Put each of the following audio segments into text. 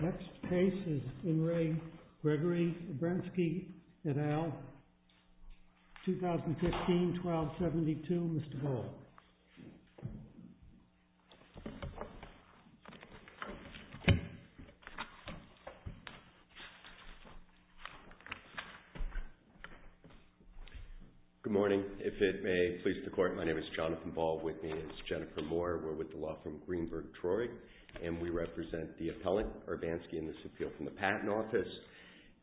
Next case is Enri Gregory Urbanski et al., 2015, 1272, Mr. Bull. Good morning, if it may please the court, my name is Jonathan Ball, with me is Jennifer Moore. We're with the law firm Greenberg-Troy, and we represent the appellant, Urbanski, in this appeal from the Patent Office.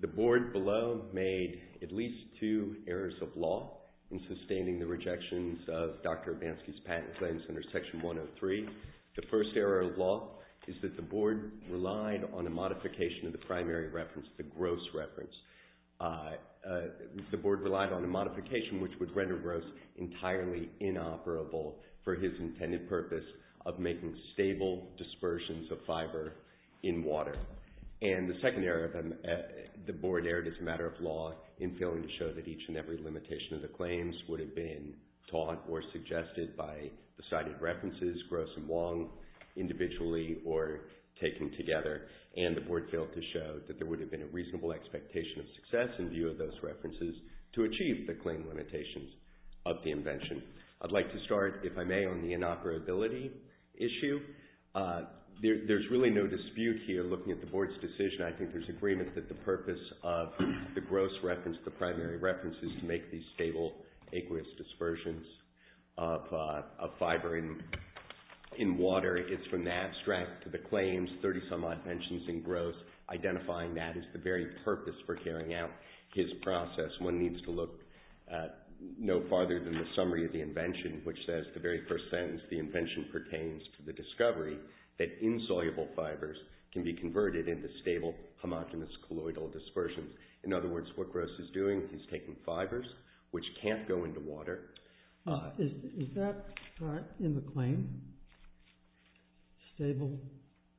The board below made at least two errors of law in sustaining the rejections of Dr. Urbanski's patent claims under Section 103. The first error of law is that the board relied on a modification of the primary reference, the gross reference. The board relied on a modification which would render gross entirely inoperable for his intended purpose of making stable dispersions of fiber in water. And the second error, the board erred as a matter of law in failing to show that each and every limitation of the claims would have been taught or suggested by the cited references, gross and long, individually or taken together, and the board failed to show that there would have been a reasonable expectation of success in view of those references to achieve the claim limitations of the invention. I'd like to start, if I may, on the inoperability issue. There's really no dispute here, looking at the board's decision, I think there's agreement that the purpose of the gross reference, the primary reference, is to make these stable aqueous dispersions of fiber in water. It's from the abstract to the claims, 30-some-odd mentions in gross, identifying that as the very purpose for carrying out his process. One needs to look no farther than the summary of the invention, which says the very first sentence, the invention pertains to the discovery that insoluble fibers can be converted into stable homogenous colloidal dispersions. In other words, what Gross is doing, he's taking fibers which can't go into water. Is that in the claim? Stable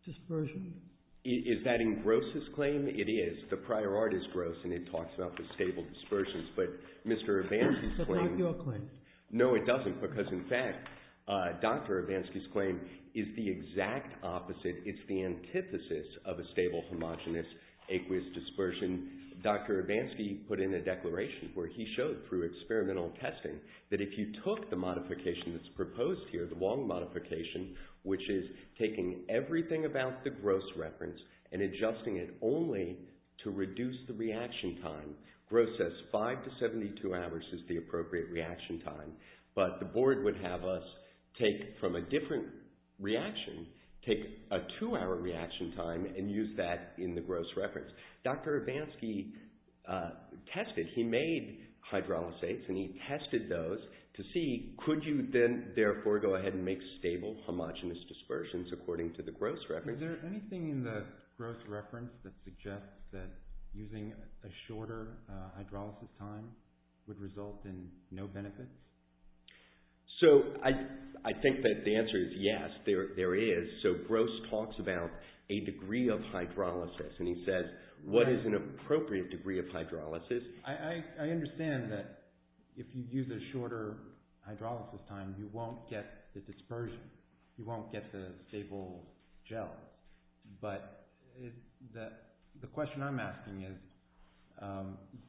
dispersion? Is that in Gross's claim? It is. The prior art is gross, and it talks about the stable dispersions, but Mr. Evans's claim... That's not your claim. No, it doesn't, because in fact, Dr. Evans's claim is the exact opposite. It's the antithesis of a stable homogenous aqueous dispersion. Dr. Evans put in a declaration where he showed through experimental testing that if you took the modification that's proposed here, the Wong modification, which is taking everything about the gross reference and adjusting it only to reduce the reaction time, Gross says five to 72 hours is the appropriate reaction time, but the board would have us take from a different reaction, take a two-hour reaction time and use that in the gross reference. Dr. Evans tested, he made hydrolysates and he tested those to see could you then therefore go ahead and make stable homogenous dispersions according to the gross reference? Is there anything in the gross reference that suggests that using a shorter hydrolysis time would result in no benefits? So I think that the answer is yes, there is. So Gross talks about a degree of hydrolysis and he says, what is an appropriate degree of hydrolysis? I understand that if you use a shorter hydrolysis time, you won't get the dispersion. You won't get the stable gel, but the question I'm asking is,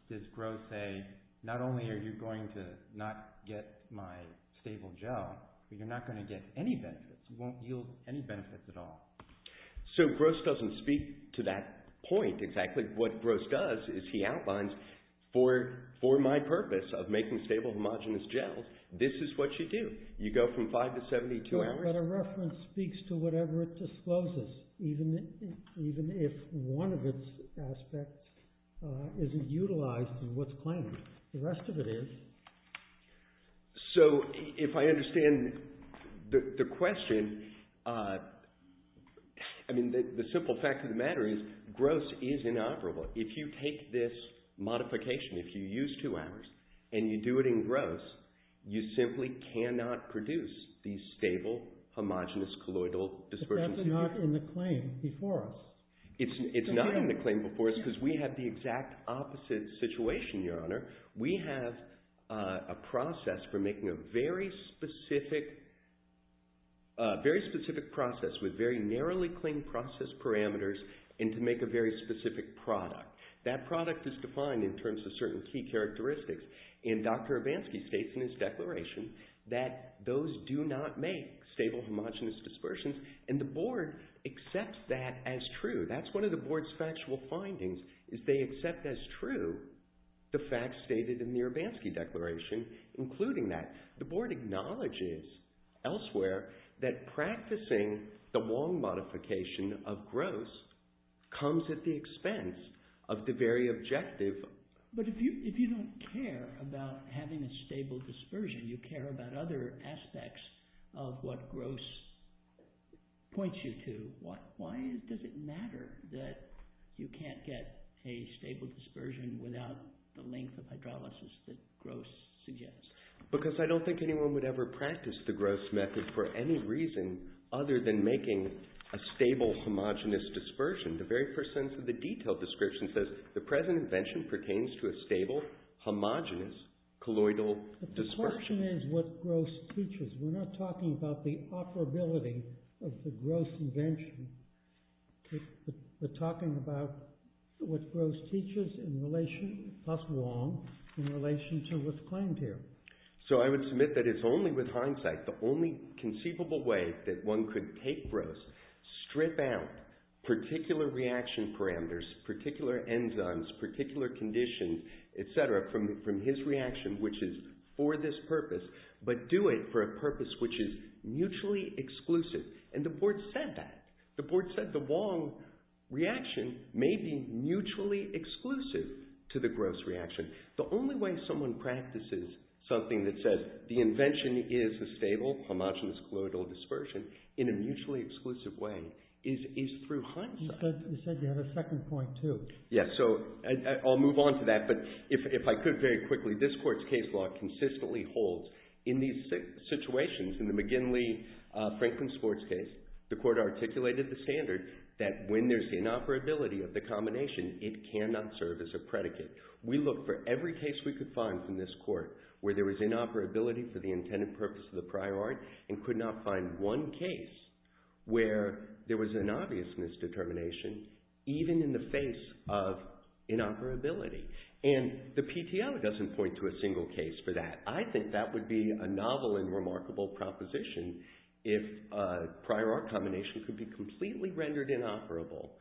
does Gross say, not only are you going to not get my stable gel, but you're not going to get any benefits, you won't yield any benefits at all. So Gross doesn't speak to that point exactly. What Gross does is he outlines for my purpose of making stable homogenous gels, this is what you do. You go from 5 to 72 hours. But a reference speaks to whatever it discloses, even if one of its aspects isn't utilized in what's claimed, the rest of it is. So if I understand the question, I mean the simple fact of the matter is Gross is inoperable. If you take this modification, if you use two hours and you do it in Gross, you simply cannot produce these stable homogenous colloidal dispersions. But that's not in the claim before us. It's not in the claim before us because we have the exact opposite situation, your honor. We have a process for making a very specific process with very narrowly claimed process parameters and to make a very specific product. That product is defined in terms of certain key characteristics and Dr. Urbanski states in his declaration that those do not make stable homogenous dispersions and the board accepts that as true. That's one of the board's factual findings is they accept as true the facts stated in the Urbanski declaration including that. The board acknowledges elsewhere that practicing the Wong modification of Gross comes at the expense of the very objective. But if you don't care about having a stable dispersion, you care about other aspects of what Gross points you to, why does it matter that you can't get a stable dispersion without the length of hydrolysis that Gross suggests? Because I don't think anyone would ever practice the Gross method for any reason other than making a stable homogenous dispersion. The very first sentence of the detailed description says the present invention pertains to a stable homogenous colloidal dispersion. But the question is what Gross teaches, we're not talking about the operability of the Gross invention, we're talking about what Gross teaches in relation, plus Wong, in relation to what's claimed here. So I would submit that it's only with hindsight, the only conceivable way that one could take particular reaction parameters, particular enzymes, particular conditions, etc. from his reaction, which is for this purpose, but do it for a purpose which is mutually exclusive. And the board said that. The board said the Wong reaction may be mutually exclusive to the Gross reaction. The only way someone practices something that says the invention is a stable homogenous colloidal dispersion in a mutually exclusive way is through hindsight. You said you had a second point, too. Yes, so I'll move on to that, but if I could very quickly, this court's case law consistently holds in these situations, in the McGinley-Franklin sports case, the court articulated the standard that when there's inoperability of the combination, it cannot serve as a predicate. We looked for every case we could find from this court where there was inoperability for the intended purpose of the prior art, and could not find one case where there was an obvious misdetermination, even in the face of inoperability, and the PTO doesn't point to a single case for that. I think that would be a novel and remarkable proposition if a prior art combination could be completely rendered inoperable,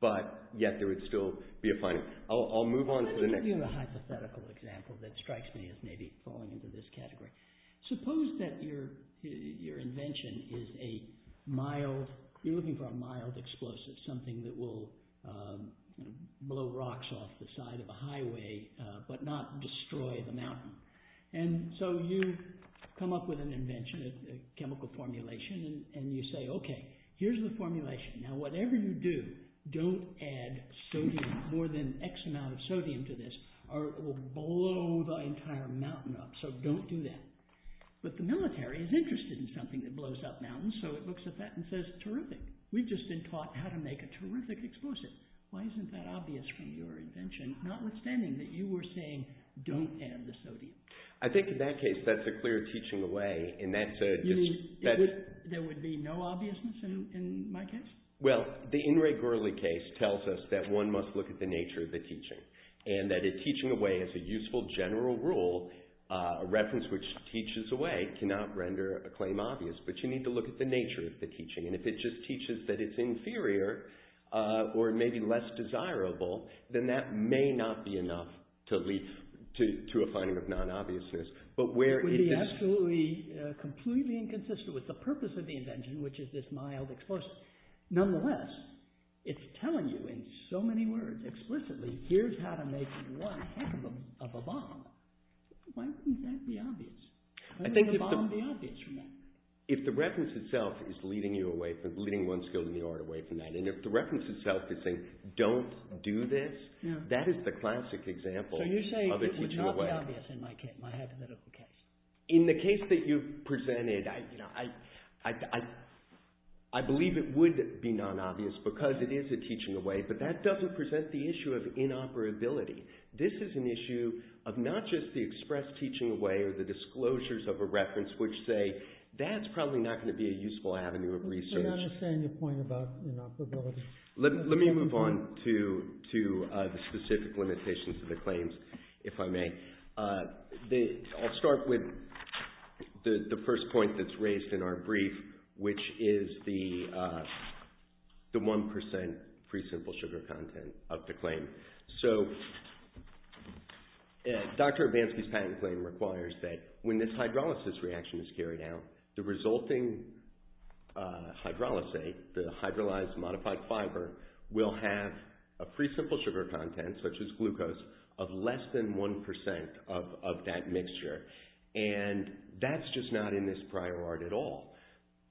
but yet there would still be a final... I'll move on to the next... Let me give you a hypothetical example that strikes me as maybe falling into this category. Suppose that your invention is a mild... You're looking for a mild explosive, something that will blow rocks off the side of a highway, but not destroy the mountain. You come up with an invention, a chemical formulation, and you say, okay, here's the formulation. Now, whatever you do, don't add sodium, more than X amount of sodium to this, or it will blow the entire mountain up, so don't do that. But the military is interested in something that blows up mountains, so it looks at that and says, terrific. We've just been taught how to make a terrific explosive. Why isn't that obvious from your invention, notwithstanding that you were saying, don't add the sodium? I think in that case, that's a clear teaching away, and that's a... You mean there would be no obviousness in my case? Well, the In Ray Gurley case tells us that one must look at the nature of the teaching, and that a teaching away is a useful general rule, a reference which teaches away, cannot render a claim obvious. But you need to look at the nature of the teaching, and if it just teaches that it's inferior, or maybe less desirable, then that may not be enough to lead to a finding of non-obviousness. But where it is... It would be absolutely, completely inconsistent with the purpose of the invention, which is this mild explosive. Nonetheless, it's telling you in so many words, explicitly, here's how to make one half of a bomb. Why wouldn't that be obvious? Why wouldn't a bomb be obvious from that? If the reference itself is leading you away from, leading one skill in the art away from that, and if the reference itself is saying, don't do this, that is the classic example of a teaching away. So you're saying it would not be obvious in my hypothetical case? In the case that you presented, I believe it would be non-obvious, because it is a teaching away, but that doesn't present the issue of inoperability. This is an issue of not just the express teaching away, or the disclosures of a reference, which say, that's probably not going to be a useful avenue of research. I don't understand your point about inoperability. Let me move on to the specific limitations of the claims, if I may. I'll start with the first point that's raised in our brief, which is the 1% pre-simple sugar content of the claim. So Dr. Urbanski's patent claim requires that when this hydrolysis reaction is carried out, the resulting hydrolysate, the hydrolyzed modified fiber, will have a pre-simple sugar content, such as glucose, of less than 1% of that mixture. And that's just not in this prior art at all.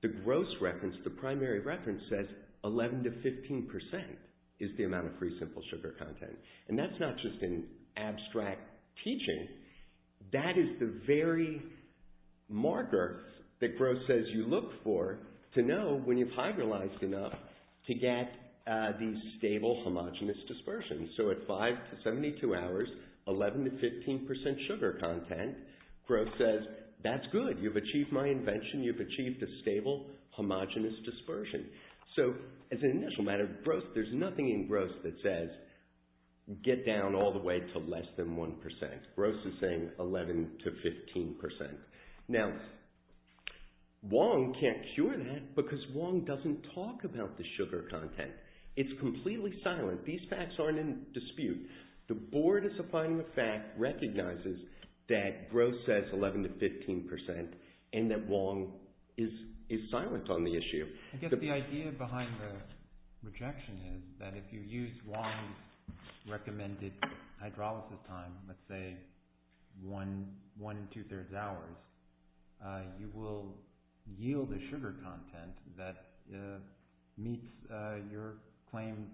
The gross reference, the primary reference, says 11% to 15% is the amount of pre-simple sugar content. And that's not just an abstract teaching. That is the very marker that Gross says you look for to know when you've hydrolyzed enough to get the stable homogenous dispersion. So at 5 to 72 hours, 11% to 15% sugar content, Gross says, that's good. You've achieved my invention. You've achieved a stable homogenous dispersion. So as an initial matter, there's nothing in Gross that says get down all the way to less than 1%. Gross is saying 11% to 15%. Now, Wong can't cure that because Wong doesn't talk about the sugar content. It's completely silent. These facts aren't in dispute. The board, as a final fact, recognizes that Gross says 11% to 15% and that Wong is silent on the issue. I guess the idea behind the rejection is that if you use Wong's recommended hydrolysis time, let's say one and two-thirds hours, you will yield a sugar content that meets your claim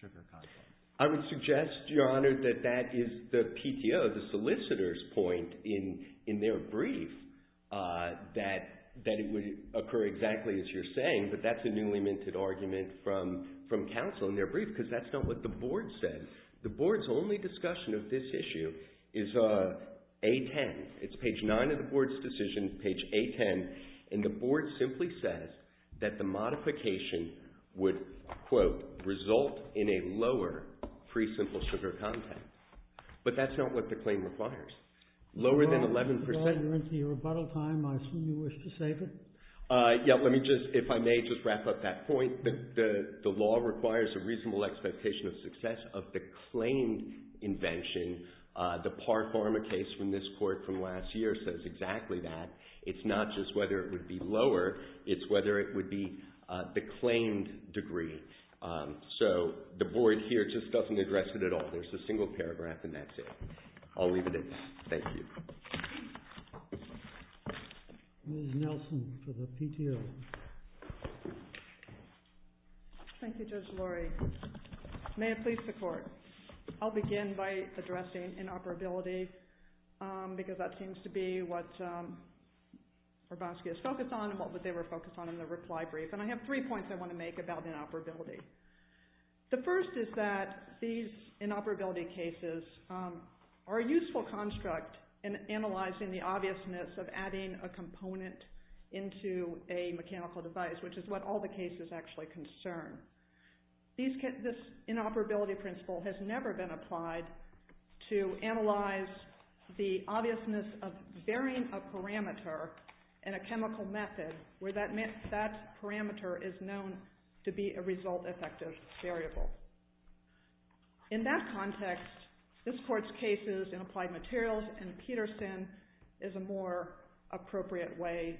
sugar content. I would suggest, Your Honor, that that is the PTO, the solicitor's point in their brief that it would occur exactly as you're saying. But that's a newly minted argument from counsel in their brief because that's not what the board said. The board's only discussion of this issue is A10. It's page nine of the board's decision, page A10. And the board simply says that the modification would, quote, result in a lower pre-simple sugar content. But that's not what the claim requires. Lower than 11%. Your Honor, you're into your rebuttal time. I assume you wish to save it. Yeah, let me just, if I may, just wrap up that point. The law requires a reasonable expectation of success of the claimed invention. The Par Pharma case from this court from last year says exactly that. It's not just whether it would be lower. It's whether it would be the claimed degree. So the board here just doesn't address it at all. There's a single paragraph, and that's it. I'll leave it at that. Thank you. Ms. Nelson for the PTO. Thank you, Judge Lurie. May it please the court. I'll begin by addressing inoperability, because that seems to be what Hrabowski is focused on and what they were focused on in the reply brief. And I have three points I want to make about inoperability. The first is that these inoperability cases are a useful construct in analyzing the obviousness of adding a component into a mechanical device, which is what all the cases actually concern. This inoperability principle has never been applied to analyze the obviousness of varying a parameter in a chemical method where that parameter is known to be a result-effective variable. In that context, this court's cases in applied materials and Peterson is a more appropriate way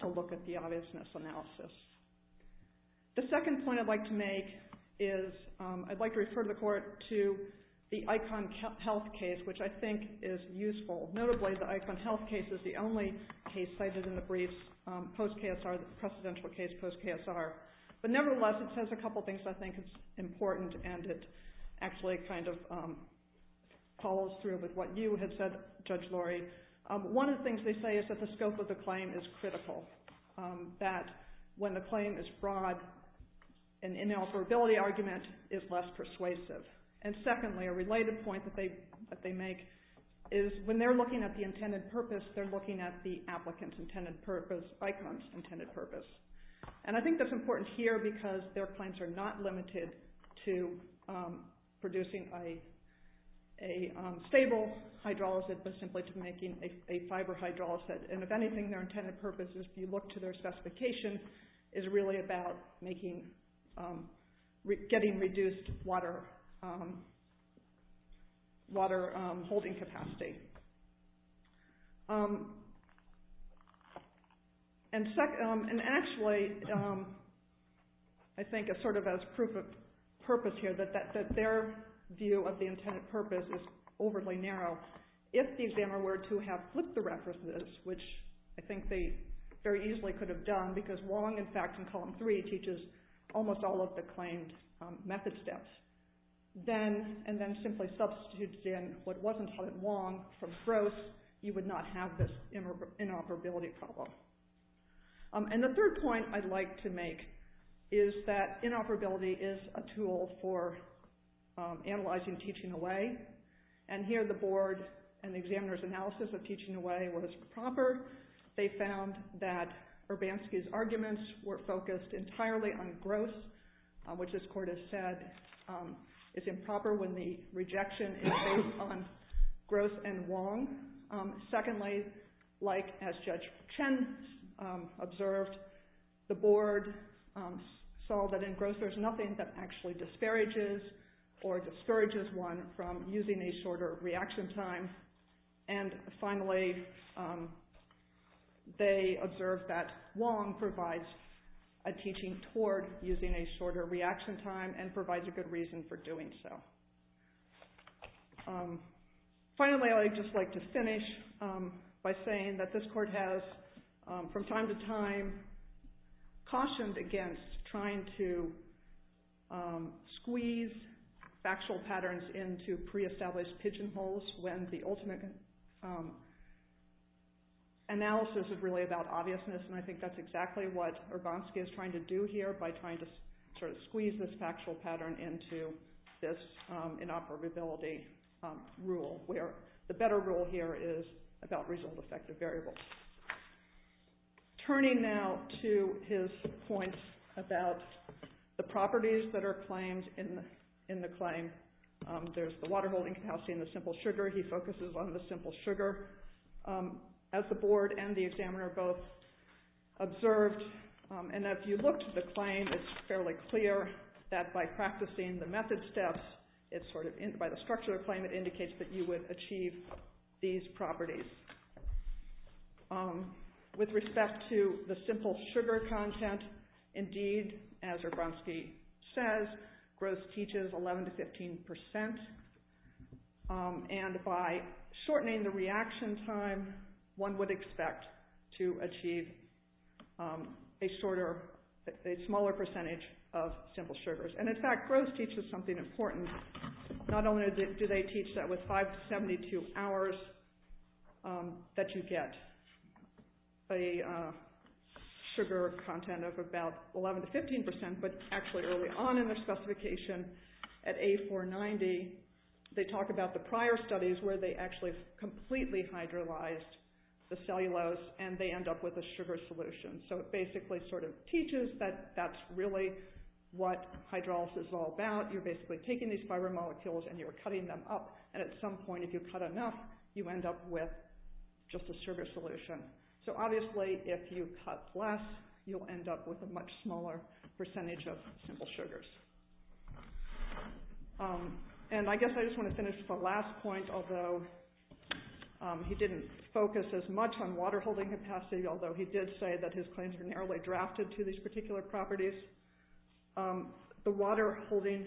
to look at the obviousness analysis. The second point I'd like to make is I'd like to refer the court to the Icon Health case, which I think is useful. Notably, the Icon Health case is the only case cited in the briefs post-KSR, the precedential case post-KSR. But nevertheless, it says a couple things I think is important, and it actually kind of follows through with what you had said, Judge Lurie. One of the things they say is that the scope of the claim is critical, that when the claim is broad, an inoperability argument is less persuasive. Secondly, a related point that they make is when they're looking at the intended purpose, they're looking at the applicant's intended purpose, ICON's intended purpose. I think that's important here because their claims are not limited to producing a stable hydrolysis, but simply to making a fiber hydrolysis. If anything, their intended purpose, if you look to their specification, is really about getting reduced water holding capacity. Actually, I think it's sort of as proof of purpose here that their view of the intended purpose is overly narrow. If the examiner were to have flipped the references, which I think they very easily could have done, because Wong, in fact, in column three, teaches almost all of the claimed method steps, and then simply substitutes in what wasn't taught at Wong from Gross, you would not have this inoperability problem. And the third point I'd like to make is that inoperability is a tool for analyzing teaching away, and here the board and the examiner's analysis of teaching away was proper. They found that Urbanski's arguments were focused entirely on Gross, which this court has said is improper when the rejection is based on Gross and Wong. Secondly, like as Judge Chen observed, the board saw that in Gross there's nothing that actually disparages or discourages one from using a shorter reaction time. And finally, they observed that Wong provides a teaching toward using a shorter reaction time, and provides a good reason for doing so. Finally, I'd just like to finish by saying that this court has, from time to time, cautioned against trying to squeeze factual patterns into pre-established pigeonholes when the ultimate analysis is really about obviousness, and I think that's exactly what Urbanski is trying to do here by trying to sort of squeeze this factual pattern into this inoperability rule, where the better rule here is about result-effective variables. Turning now to his point about the properties that are claimed in the claim, there's the water-holding capacity and the simple sugar. He focuses on the simple sugar, as the board and the examiner both observed. And if you looked at the claim, it's fairly clear that by practicing the method steps, by the structure of the claim, it indicates that you would achieve these properties. With respect to the simple sugar content, indeed, as Urbanski says, Gross teaches 11% to 15%, and by shortening the reaction time, one would expect to achieve a smaller percentage of simple sugars. And in fact, Gross teaches something important. Not only do they teach that with 572 hours that you get a sugar content of about 11% to 15%, but actually early on in the specification, at A490, they talk about the prior studies where they actually completely hydrolyzed the cellulose, and they end up with a sugar solution. So it basically sort of teaches that that's really what hydrolysis is all about. You're basically taking these fiber molecules, and you're cutting them up. And at some point, if you cut enough, you end up with just a sugar solution. So obviously, if you cut less, you'll end up with a much smaller percentage of simple sugars. And I guess I just want to finish the last point, although he didn't focus as much on water-holding capacity, although he did say that his claims were narrowly drafted to these particular properties. The water-holding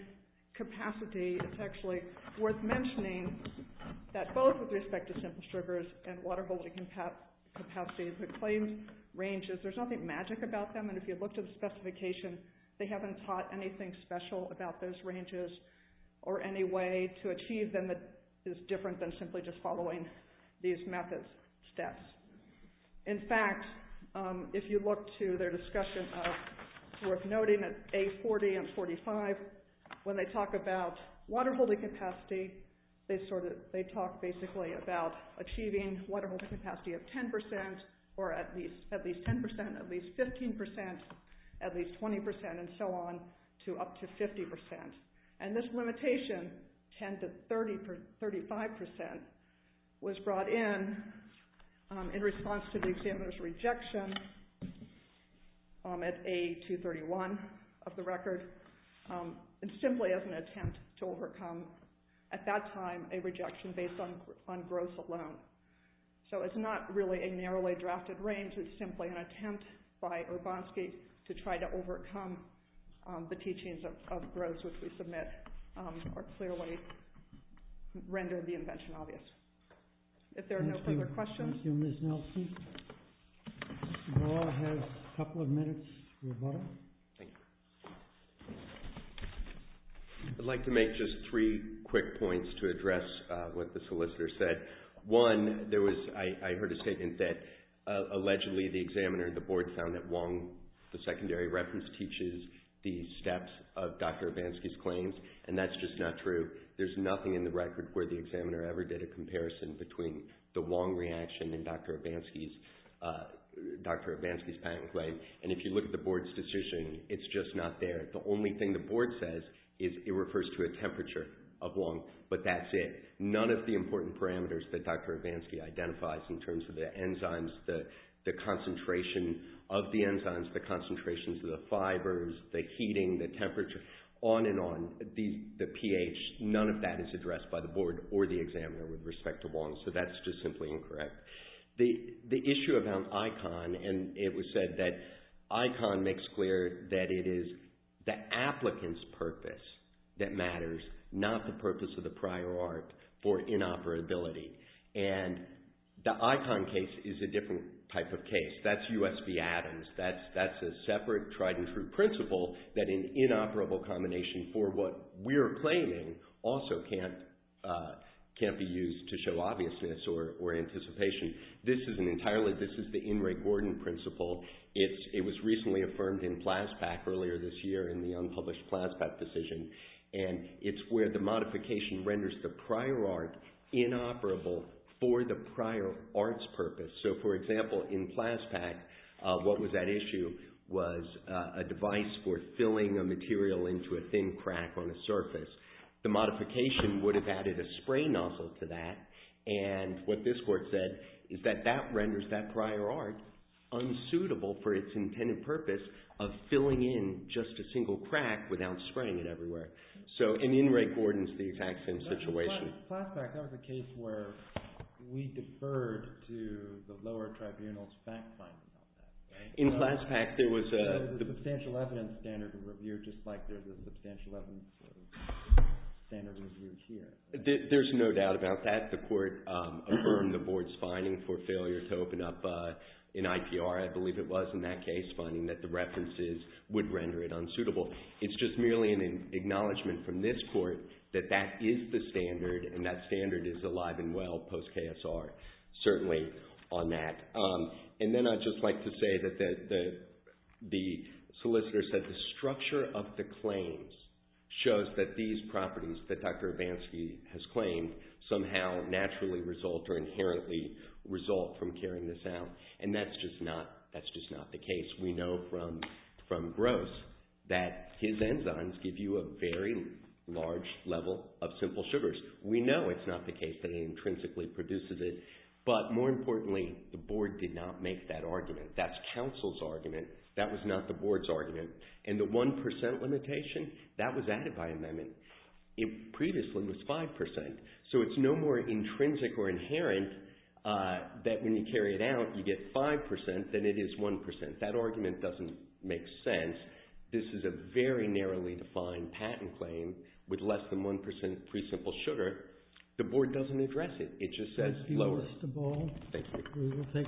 capacity, it's actually worth mentioning that both with respect to simple sugars and water-holding capacities, the claims ranges, there's nothing magic about them. And if you look to the specification, they haven't taught anything special about those ranges or any way to achieve them that is different than simply just following these methods, steps. In fact, if you look to their discussion of worth noting that A40 and 45, when they talk about water-holding capacity, they talk basically about achieving water-holding capacity of 10% or at least 10%, at least 15%, at least 20%, and so on to up to 50%. And this limitation, 10% to 35%, was brought in in response to the examiner's rejection at A231 of the record, simply as an attempt to overcome, at that time, a rejection based on growth alone. So it's not really a narrowly drafted range, it's simply an attempt by Urbanski to try to overcome the teachings of growth, which we submit, or clearly render the invention obvious. If there are no further questions... Thank you, Ms. Nelson. We'll all have a couple of minutes. Thank you. I'd like to make just three quick points to address what the solicitor said. One, I heard a statement that allegedly the examiner and the board found that Wong, the secondary reference, teaches the steps of Dr. Urbanski's claims, and that's just not true. There's nothing in the record where the examiner ever did a comparison between the Wong reaction and Dr. Urbanski's patent claim. And if you look at the board's decision, it's just not there. The only thing the board says is it refers to a temperature of Wong, but that's it. None of the important parameters that Dr. Urbanski identifies, in terms of the enzymes, the concentration of the enzymes, the concentrations of the fibers, the heating, the temperature, on and on, the pH, none of that is addressed by the board or the examiner with respect to Wong, so that's just simply incorrect. The issue about ICON, and it was said that ICON makes clear that it is the applicant's purpose that matters, not the purpose of the prior art for inoperability. And the ICON case is a different type of case. That's U.S.B. Adams. That's a separate tried and true principle that an inoperable combination for what we're claiming also can't be used to show obviousness or anticipation. This is the In re Gordon principle. It was recently affirmed in PLASPAC earlier this year in the unpublished PLASPAC decision, and it's where the modification renders the prior art inoperable for the prior art's purpose. So, for example, in PLASPAC, what was at issue was a device for filling a material into a thin crack on a surface. The modification would have added a spray nozzle to that, and what this court said is that that renders that prior art unsuitable for its intended purpose of filling in just a single crack without spraying it everywhere. So, in In re Gordon's, the attack's in situation. In PLASPAC, that was a case where we deferred to the lower tribunal's fact finding on that. In PLASPAC, there was a... There was a substantial evidence standard to review, just like there's a substantial evidence standard reviewed here. There's no doubt about that. The court affirmed the board's finding for failure to open up an IPR, I believe it was, in that case, finding that the references would render it unsuitable. It's just merely an acknowledgment from this court that that is the standard, and that standard is alive and well post-KSR, certainly on that. And then I'd just like to say that the solicitor said the structure of the claims shows that these properties that Dr. Abanski has claimed somehow naturally result or inherently result from carrying this out. And that's just not the case. We know from Gross that his enzymes give you a very large level of simple sugars. We know it's not the case that it intrinsically produces it, but more importantly, the board did not make that argument. That's counsel's argument. That was not the board's argument. And the 1% limitation, that was added by amendment. It previously was 5%. So it's no more intrinsic or inherent that when you carry it out, you get 5% than it is 1%. That argument doesn't make sense. This is a very narrowly defined patent claim with less than 1% pre-simple sugar. The board doesn't address it. It just says lower. Thank you.